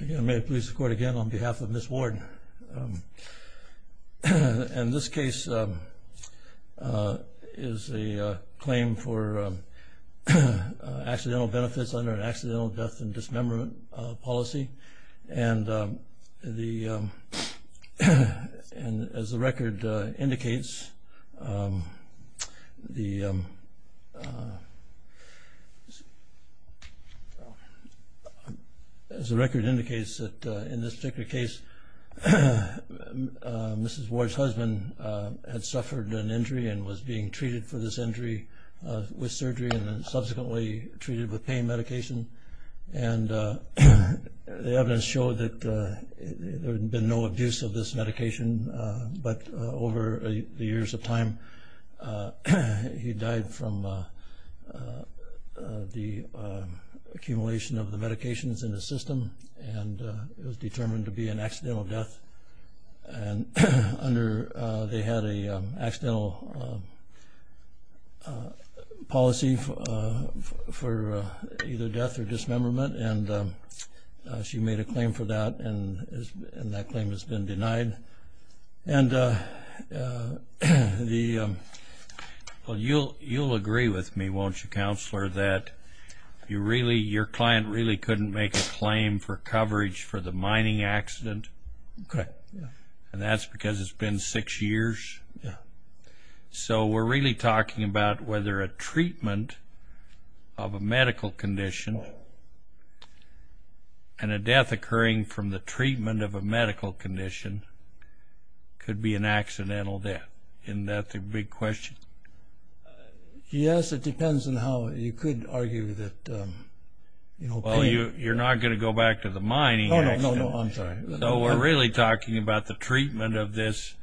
May it please the Court again on behalf of Ms. Ward, in this case is a claim for accidental benefits under an accidental death and dismemberment policy, and the, as the record indicates, that in this particular case, Ms. Ward's husband had suffered an injury and was being treated for this injury with surgery and then subsequently treated with pain medication, and the evidence showed that there had been no abuse of this medication, but over the years of time, he died from the accumulation of the medications in the system and was determined to be an accidental death, and under, they had an accidental policy for either death or dismemberment, and she made a claim for that, and that claim has been denied, and the... Well, you'll agree with me, won't you, Counselor, that you really, your client really couldn't make a claim for coverage for the mining accident? Correct, yeah. And that's because it's been six years? Yeah. So we're really talking about whether a treatment of a medical condition and a death occurring from the treatment of a medical condition could be an accidental death. Isn't that the big question? Yes, it depends on how, you could argue that, you know, pain... You're not going to go back to the mining accident. No, no, I'm sorry. So we're really talking about the treatment of this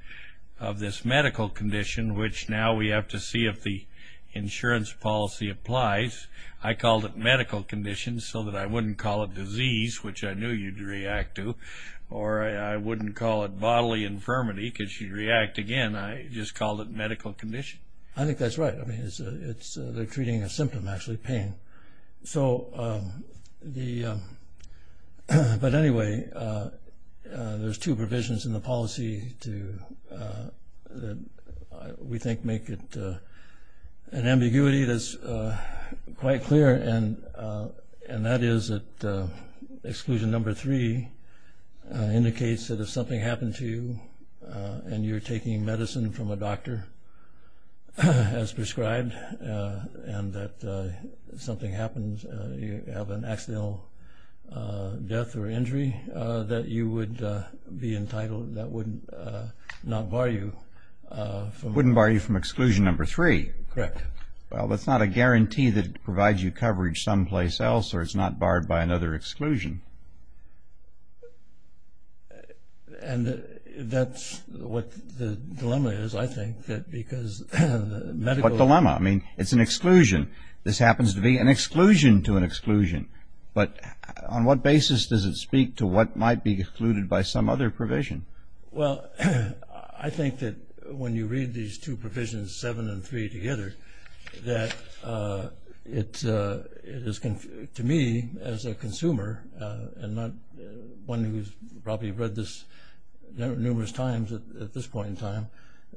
medical condition, which now we have to see if the insurance policy applies. I called it medical condition so that I wouldn't call it disease, which I knew you'd react to, or I wouldn't call it bodily infirmity because you'd react again. I just called it medical condition. I think that's right. I mean, they're treating a symptom, actually, pain. But anyway, there's two provisions in the policy that we think make it an ambiguity that's quite clear, and that is that exclusion number three indicates that if something happened to you and you're taking medicine from a doctor as prescribed, and that something happens, you have an accidental death or injury, that you would be entitled, that would not bar you from... Wouldn't bar you from exclusion number three. Correct. Well, that's not a guarantee that it provides you coverage someplace else, or it's not barred by another exclusion. And that's what the dilemma is, I think, because medical... What dilemma? I mean, it's an exclusion. This happens to be an exclusion to an exclusion. But on what basis does it speak to what might be excluded by some other provision? Well, I think that when you read these two provisions, seven and three, together, that it is, to me, as a consumer, and not one who's probably read this numerous times at this point in time,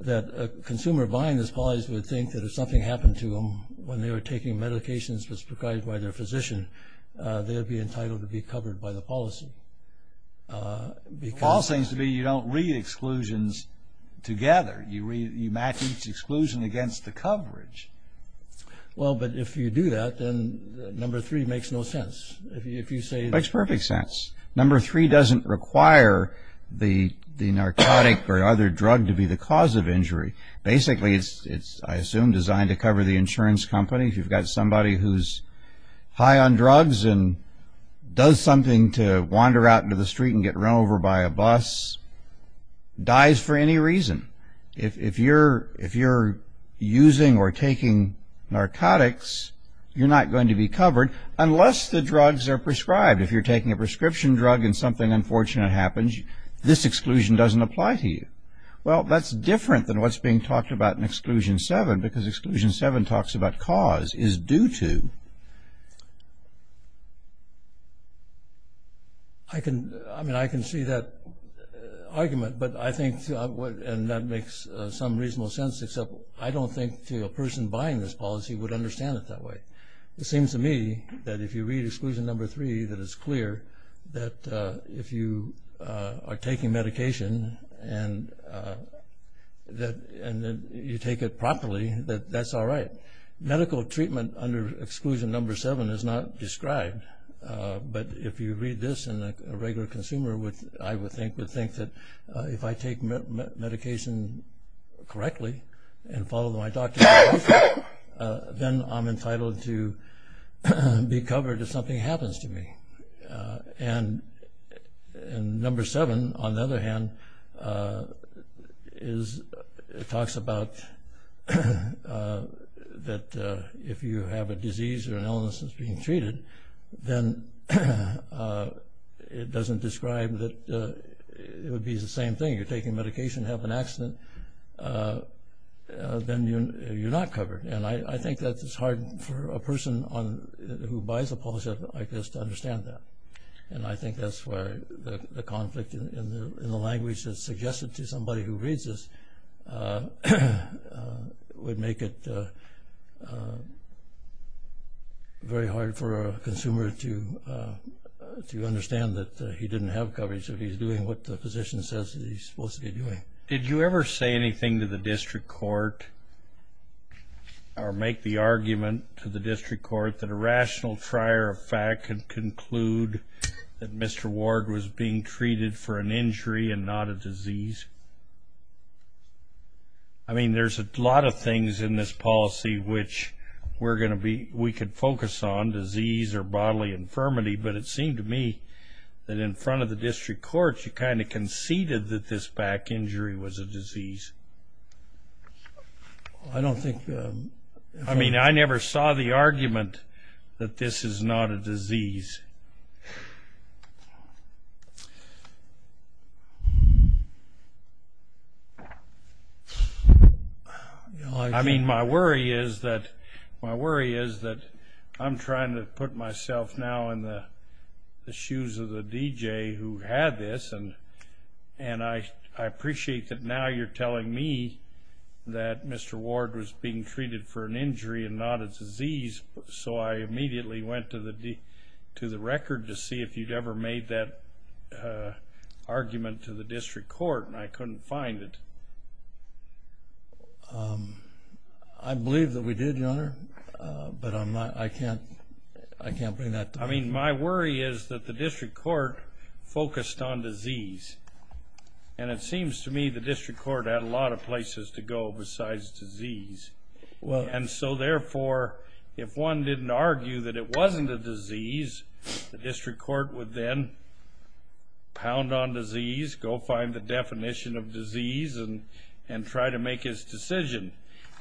that a consumer buying this policy would think that if something happened to them when they were taking medications as prescribed by their physician, they would be entitled to be covered by the policy. The flaw seems to be you don't read exclusions together. You match each exclusion against the coverage. Well, but if you do that, then number three makes no sense. It makes perfect sense. Number three doesn't require the narcotic or other drug to be the cause of injury. Basically, it's, I assume, designed to cover the insurance company. If you've got somebody who's high on drugs and does something to wander out into the street and get run over by a bus, dies for any reason. If you're using or taking narcotics, you're not going to be covered unless the drugs are prescribed. If you're taking a prescription drug and something unfortunate happens, this exclusion doesn't apply to you. Well, that's different than what's being talked about in exclusion seven, because exclusion seven talks about cause is due to. I can see that argument, and that makes some reasonable sense, except I don't think a person buying this policy would understand it that way. It seems to me that if you read exclusion number three, that if you are taking medication and you take it properly, that that's all right. Medical treatment under exclusion number seven is not described, but if you read this and a regular consumer, I would think, would think that if I take medication correctly and follow my doctor's advice, then I'm entitled to be covered if something happens to me. And number seven, on the other hand, talks about that if you have a disease or an illness that's being treated, then it doesn't describe that it would be the same thing. You're taking medication, have an accident, then you're not covered. And I think that it's hard for a person who buys a policy like this to understand that. And I think that's where the conflict in the language that's suggested to somebody who reads this would make it very hard for a consumer to understand that he didn't have coverage. If he's doing what the physician says he's supposed to be doing. Did you ever say anything to the district court or make the argument to the district court that a rational trier of fact could conclude that Mr. Ward was being treated for an injury and not a disease? I mean, there's a lot of things in this policy which we're going to be, we could focus on disease or bodily infirmity, but it seemed to me that in front of the district court you kind of conceded that this back injury was a disease. I don't think... I mean, I never saw the argument that this is not a disease. I mean, my worry is that I'm trying to put myself now in the shoes of the DJ who had this, and I appreciate that now you're telling me that Mr. Ward was being treated for an injury and not a disease. So I immediately went to the record to see if you'd ever made that argument to the district court, and I couldn't find it. I believe that we did, Your Honor, but I can't bring that to mind. I mean, my worry is that the district court focused on disease, and it seems to me the district court had a lot of places to go besides disease. And so, therefore, if one didn't argue that it wasn't a disease, the district court would then pound on disease, go find the definition of disease, and try to make his decision.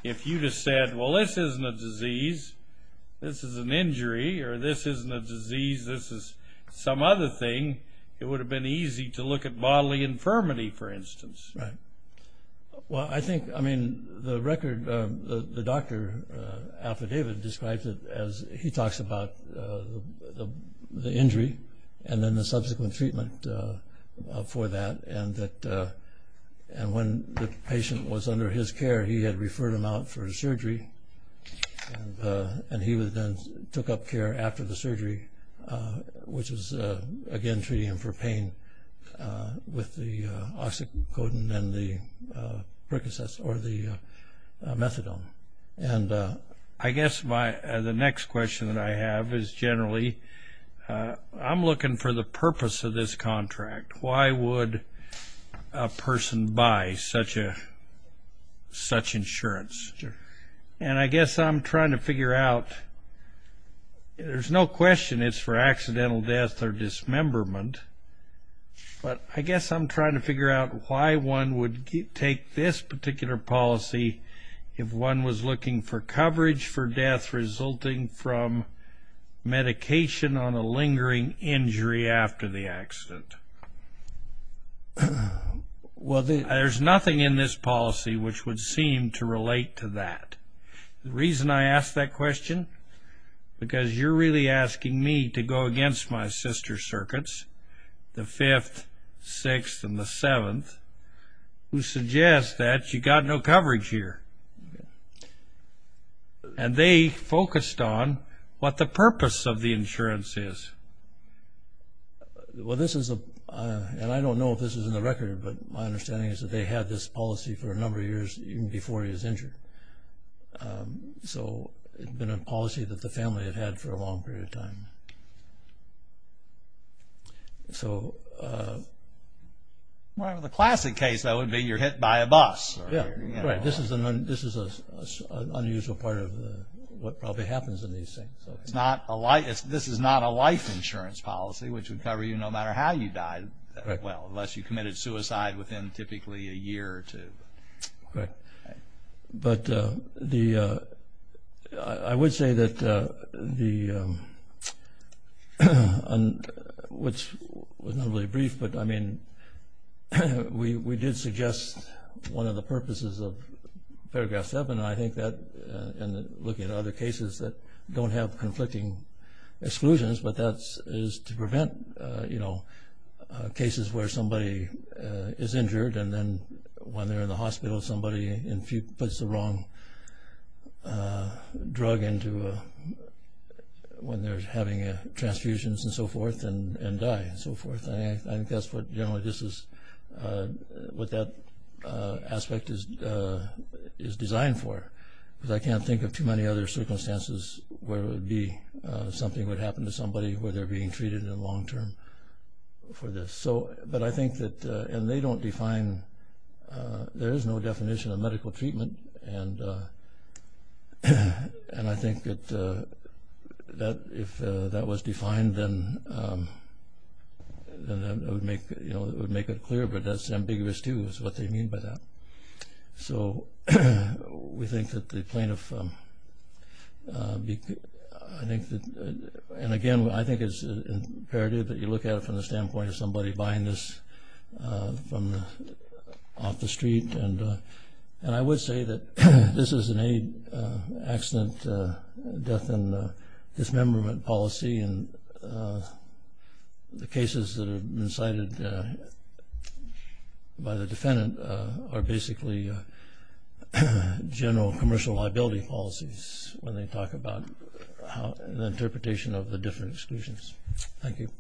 If you just said, well, this isn't a disease, this is an injury, or this isn't a disease, this is some other thing, it would have been easy to look at bodily infirmity, for instance. Right. Well, I think, I mean, the record, the doctor affidavit describes it as he talks about the injury and then the subsequent treatment for that, and that when the patient was under his care, he had referred him out for surgery, and he then took up care after the surgery, which was, again, treating him for pain with the Oxycodone and the Percocet or the Methadone. And I guess the next question that I have is generally, I'm looking for the purpose of this contract. Why would a person buy such insurance? Sure. And I guess I'm trying to figure out, there's no question it's for accidental death or dismemberment, but I guess I'm trying to figure out why one would take this particular policy if one was looking for coverage for death resulting from medication on a lingering injury after the accident. Well, there's nothing in this policy which would seem to relate to that. The reason I ask that question, because you're really asking me to go against my sister circuits, the Fifth, Sixth, and the Seventh, who suggest that you got no coverage here. And they focused on what the purpose of the insurance is. Well, this is a, and I don't know if this is in the record, but my understanding is that they had this policy for a number of years even before he was injured. So it had been a policy that the family had had for a long period of time. So... Well, the classic case, though, would be you're hit by a bus. Yeah, right. This is an unusual part of what probably happens in these things. This is not a life insurance policy, which would cover you no matter how you died. Right. Well, unless you committed suicide within typically a year or two. Right. But the, I would say that the, which was not really brief, but I mean, we did suggest one of the purposes of Paragraph 7, and I think that, and looking at other cases that don't have conflicting exclusions, but that is to prevent, you know, cases where somebody is injured and then when they're in the hospital somebody puts the wrong drug into, when they're having transfusions and so forth and die and so forth. I think that's what generally this is, what that aspect is designed for. Because I can't think of too many other circumstances where it would be, something would happen to somebody where they're being treated in the long term for this. So, but I think that, and they don't define, there is no definition of medical treatment, and I think that if that was defined then it would make it clear, but that's ambiguous too is what they mean by that. So, we think that the plaintiff, I think that, and again, I think it's imperative that you look at it from the standpoint of somebody buying this off the street. And I would say that this is an aid accident death and dismemberment policy, and the cases that have been cited by the defendant are basically general commercial liability policies when they talk about the interpretation of the different exclusions. Thank you.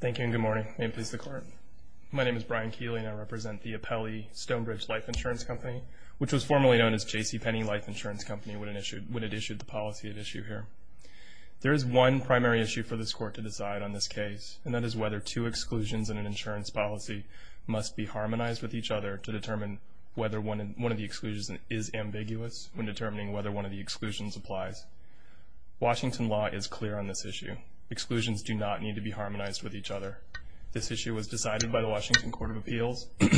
Thank you and good morning. May it please the Court. My name is Brian Keeling. I represent the Apelli Stonebridge Life Insurance Company, which was formerly known as J.C. Penney Life Insurance Company when it issued the policy at issue here. There is one primary issue for this Court to decide on this case, and that is whether two exclusions in an insurance policy must be harmonized with each other to determine whether one of the exclusions is ambiguous when determining whether one of the exclusions applies. Washington law is clear on this issue. Exclusions do not need to be harmonized with each other. This issue was decided by the Washington Court of Appeals in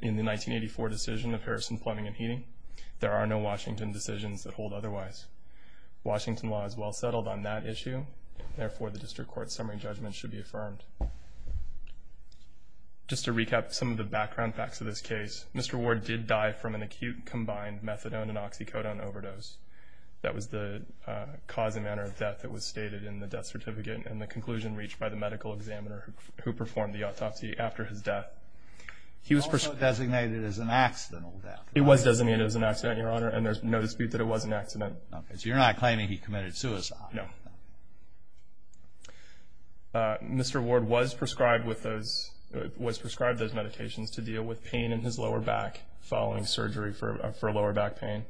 the 1984 decision of Harrison, Plumbing, and Heating. There are no Washington decisions that hold otherwise. Washington law is well settled on that issue. Therefore, the district court's summary judgment should be affirmed. Just to recap some of the background facts of this case, Mr. Ward did die from an acute combined methadone and oxycodone overdose. That was the cause and manner of death that was stated in the death certificate and the conclusion reached by the medical examiner who performed the autopsy after his death. He was also designated as an accidental death. He was designated as an accident, Your Honor, and there's no dispute that it was an accident. Okay, so you're not claiming he committed suicide. No. Mr. Ward was prescribed those medications to deal with pain in his lower back following surgery for lower back pain.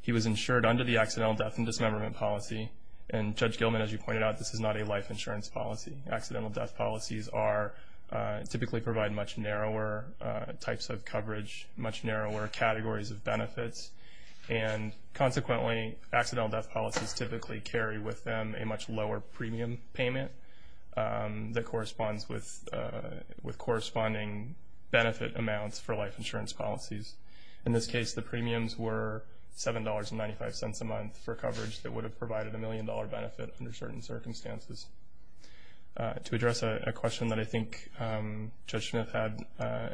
He was insured under the accidental death and dismemberment policy, and Judge Gilman, as you pointed out, this is not a life insurance policy. Accidental death policies typically provide much narrower types of coverage, much narrower categories of benefits, and consequently accidental death policies typically carry with them a much lower premium payment that corresponds with corresponding benefit amounts for life insurance policies. In this case, the premiums were $7.95 a month for coverage that would have provided a million-dollar benefit under certain circumstances. To address a question that I think Judge Smith had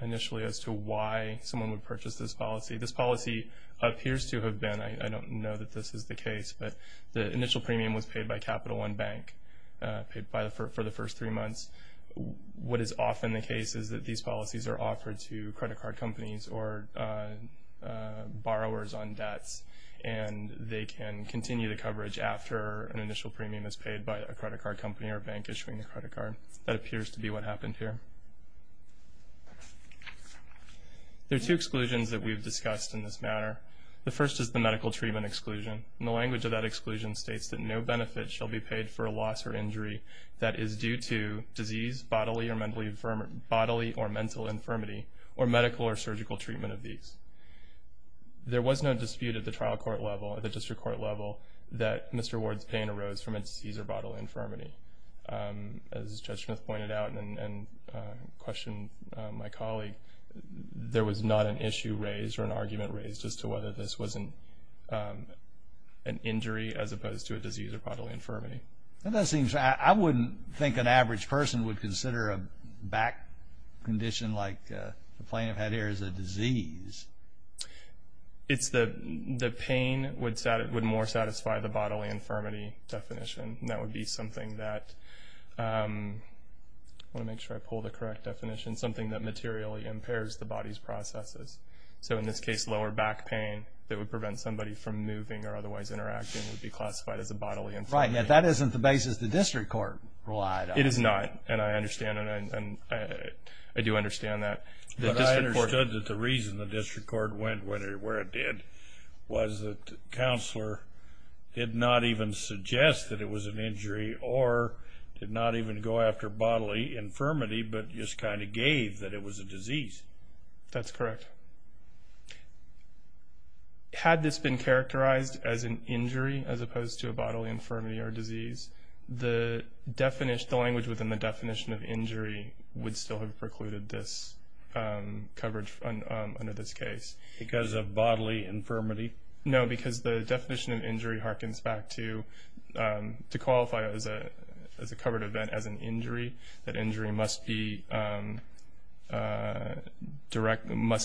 initially as to why someone would purchase this policy, this policy appears to have been, I don't know that this is the case, but the initial premium was paid by Capital One Bank for the first three months. What is often the case is that these policies are offered to credit card companies or borrowers on debts, and they can continue the coverage after an initial premium is paid by a credit card company or bank issuing a credit card. That appears to be what happened here. There are two exclusions that we've discussed in this matter. The first is the medical treatment exclusion, and the language of that exclusion states that no benefit shall be paid for a loss or injury that is due to disease, bodily or mental infirmity, or medical or surgical treatment of these. There was no dispute at the trial court level, at the district court level, that Mr. Ward's pain arose from a disease or bodily infirmity. As Judge Smith pointed out and questioned my colleague, there was not an issue raised or an argument raised as to whether this was an injury as opposed to a disease or bodily infirmity. I wouldn't think an average person would consider a back condition like the plaintiff had here as a disease. The pain would more satisfy the bodily infirmity definition. That would be something that, I want to make sure I pull the correct definition, something that materially impairs the body's processes. So, in this case, lower back pain that would prevent somebody from moving or otherwise interacting would be classified as a bodily infirmity. Right, and that isn't the basis the district court relied on. It is not, and I understand, and I do understand that. But I understood that the reason the district court went where it did was because the counselor did not even suggest that it was an injury or did not even go after bodily infirmity but just kind of gave that it was a disease. That's correct. Had this been characterized as an injury as opposed to a bodily infirmity or disease, the language within the definition of injury would still have precluded this coverage under this case. Because of bodily infirmity? No, because the definition of injury harkens back to, to qualify it as a covered event as an injury, that injury must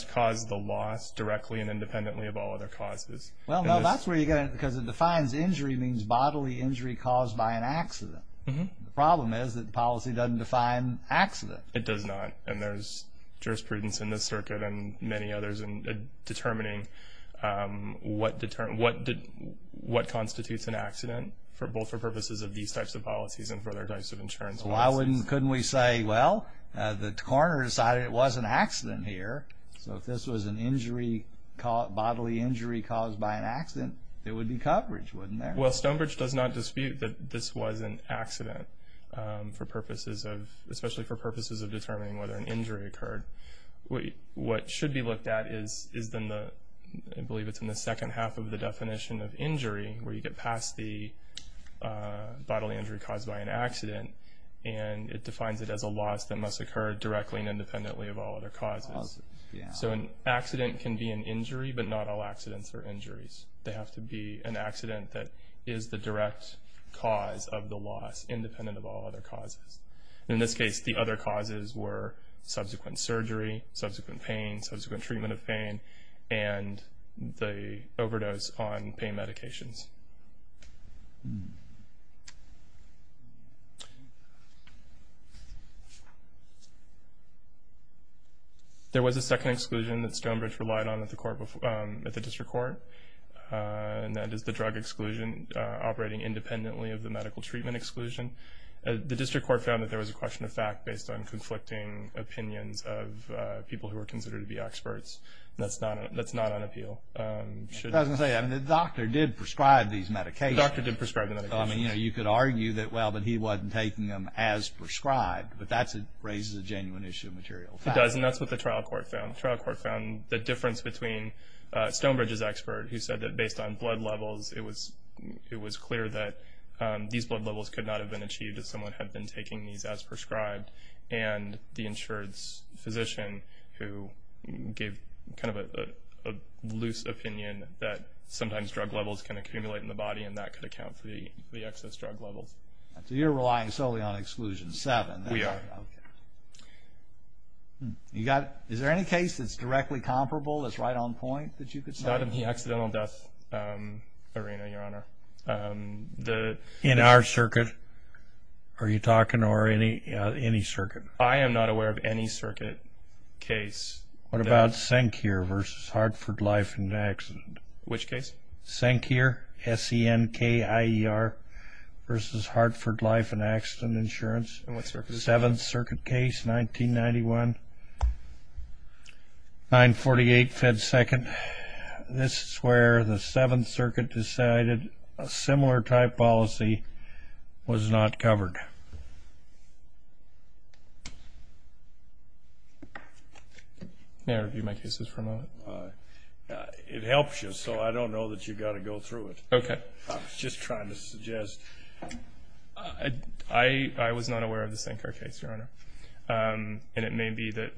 cause the loss directly and independently of all other causes. Well, no, that's where you're going, because it defines injury means bodily injury caused by an accident. The problem is that policy doesn't define accident. It does not, and there's jurisprudence in this circuit and many others in determining what constitutes an accident, both for purposes of these types of policies and for other types of insurance policies. Well, couldn't we say, well, the coroner decided it was an accident here, so if this was an injury, bodily injury caused by an accident, it would be coverage, wouldn't it? Well, Stonebridge does not dispute that this was an accident for purposes of, especially for purposes of determining whether an injury occurred. What should be looked at is in the, I believe it's in the second half of the definition of injury, where you get past the bodily injury caused by an accident, and it defines it as a loss that must occur directly and independently of all other causes. So an accident can be an injury, but not all accidents are injuries. They have to be an accident that is the direct cause of the loss, independent of all other causes. In this case, the other causes were subsequent surgery, subsequent pain, subsequent treatment of pain, and the overdose on pain medications. There was a second exclusion that Stonebridge relied on at the court before, at the district court, and that is the drug exclusion operating independently of the medical treatment exclusion. The district court found that there was a question of fact based on conflicting opinions of people who were considered to be experts, and that's not on appeal. It doesn't say that. The doctor did prescribe the medication. You could argue that, well, but he wasn't taking them as prescribed, but that raises a genuine issue of material fact. It does, and that's what the trial court found. The trial court found the difference between Stonebridge's expert, who said that based on blood levels, it was clear that these blood levels could not have been achieved if someone had been taking these as prescribed, and the insurance physician who gave kind of a loose opinion that sometimes drug levels can accumulate in the body and that could account for the excess drug levels. So you're relying solely on exclusion seven. We are. Okay. Is there any case that's directly comparable that's right on point that you could say? Not in the accidental death arena, Your Honor. In our circuit? Are you talking or any circuit? I am not aware of any circuit case. What about Senkir versus Hartford Life and Accident? Which case? Senkir, S-E-N-K-I-E-R, versus Hartford Life and Accident Insurance. And what circuit is this? Seventh Circuit case, 1991, 948 Fed Second. This is where the Seventh Circuit decided a similar type policy was not covered. May I review my cases for a moment? It helps you, so I don't know that you've got to go through it. Okay. I was just trying to suggest. I was not aware of the Senkir case, Your Honor, and it may be that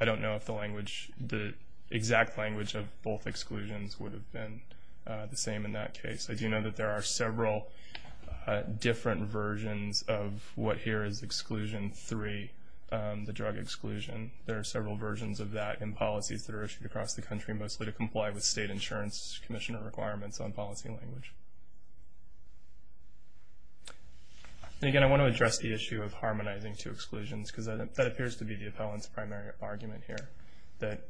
I don't know if the exact language of both exclusions would have been the same in that case. I do know that there are several different versions of what here is exclusion three, the drug exclusion. There are several versions of that in policies that are issued across the country, mostly to comply with state insurance commissioner requirements on policy language. And, again, I want to address the issue of harmonizing two exclusions because that appears to be the appellant's primary argument here, that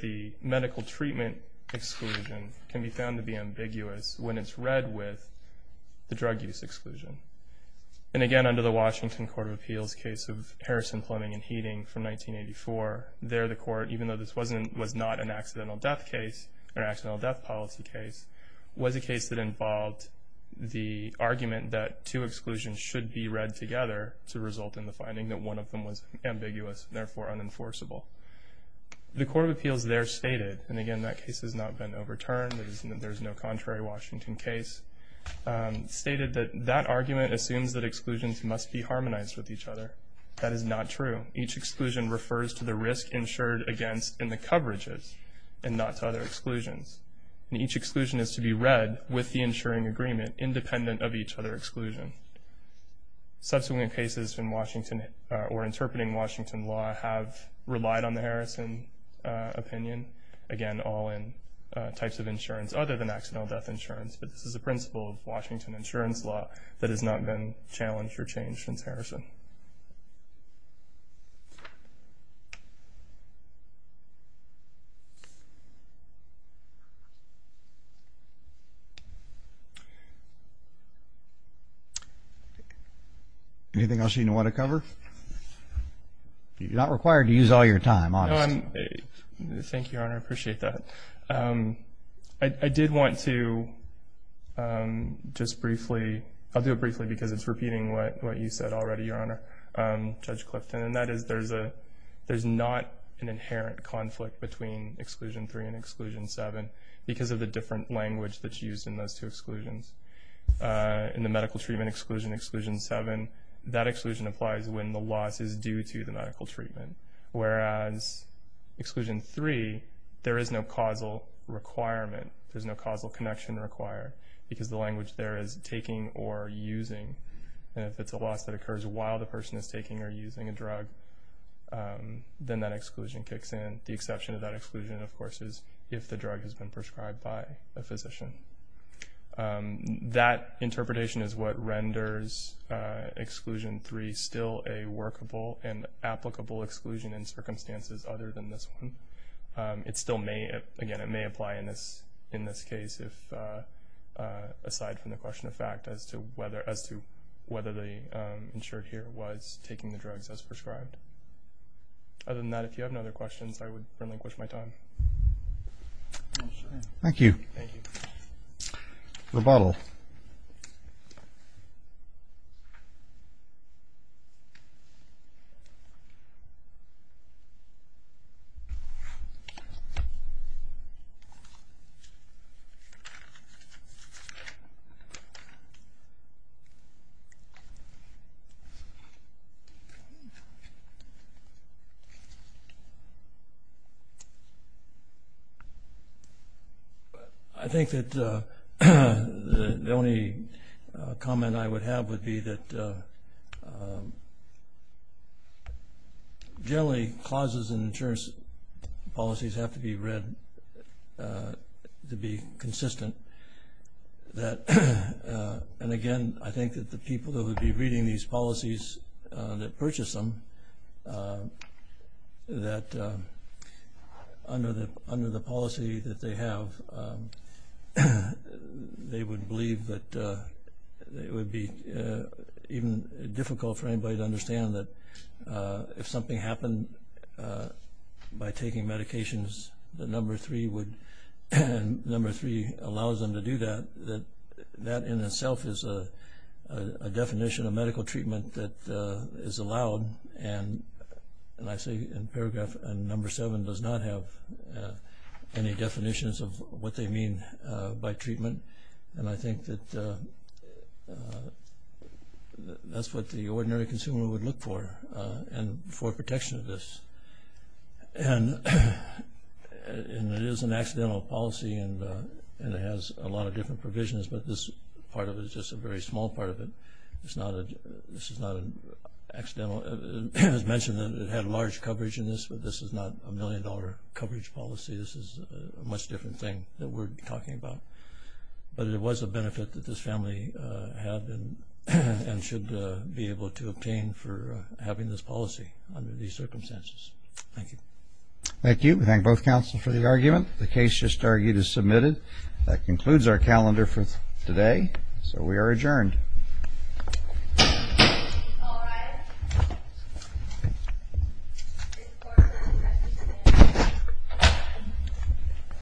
the medical treatment exclusion can be found to be ambiguous when it's read with the drug use exclusion. And, again, under the Washington Court of Appeals case of Harrison, Plumbing, and Heating from 1984, there the court, even though this was not an accidental death policy case, was a case that involved the argument that two exclusions should be read together to result in the finding that one of them was ambiguous, therefore unenforceable. The Court of Appeals there stated, and, again, that case has not been overturned, there's no contrary Washington case, stated that that argument assumes that exclusions must be harmonized with each other. That is not true. Each exclusion refers to the risk insured against in the coverages and not to other exclusions. And each exclusion is to be read with the insuring agreement independent of each other exclusion. Subsequent cases in Washington or interpreting Washington law have relied on the Harrison opinion, again, all in types of insurance other than accidental death insurance, but this is a principle of Washington insurance law that has not been challenged or changed since Harrison. Anything else you want to cover? You're not required to use all your time, honestly. Thank you, Your Honor. I appreciate that. I did want to just briefly, I'll do it briefly because it's repeating what you said already, Your Honor, Judge Clifton, and that is there's not an inherent conflict between Exclusion 3 and Exclusion 7 because of the different language that's used in those two exclusions. In the medical treatment exclusion, Exclusion 7, that exclusion applies when the loss is due to the medical treatment, whereas Exclusion 3, there is no causal requirement. There's no causal connection required because the language there is taking or using, and if it's a loss that occurs while the person is taking or using a drug, then that exclusion kicks in. The exception to that exclusion, of course, is if the drug has been prescribed by a physician. That interpretation is what renders Exclusion 3 still a workable and applicable exclusion in circumstances other than this one. It still may, again, it may apply in this case aside from the question of fact as to whether the insured here was taking the drugs as prescribed. Other than that, if you have no other questions, I would relinquish my time. Thank you. Rebuttal. I think that the only comment I would have would be that generally clauses in insurance policies have to be read to be consistent. And again, I think that the people that would be reading these policies that purchase them, that under the policy that they have, they would believe that it would be even difficult for anybody to understand that if something happened by taking medications, that Number 3 would, Number 3 allows them to do that. That in itself is a definition of medical treatment that is allowed and I see in paragraph Number 7 does not have any definitions of what they mean by treatment. And I think that that's what the ordinary consumer would look for and for protection of this. And it is an accidental policy and it has a lot of different provisions, but this part of it is just a very small part of it. This is not an accidental. As mentioned, it had large coverage in this, but this is not a million-dollar coverage policy. This is a much different thing that we're talking about. But it was a benefit that this family had and should be able to obtain for having this policy under these circumstances. Thank you. Thank you. We thank both counsel for the argument. The case just argued is submitted. That concludes our calendar for today, so we are adjourned. All rise.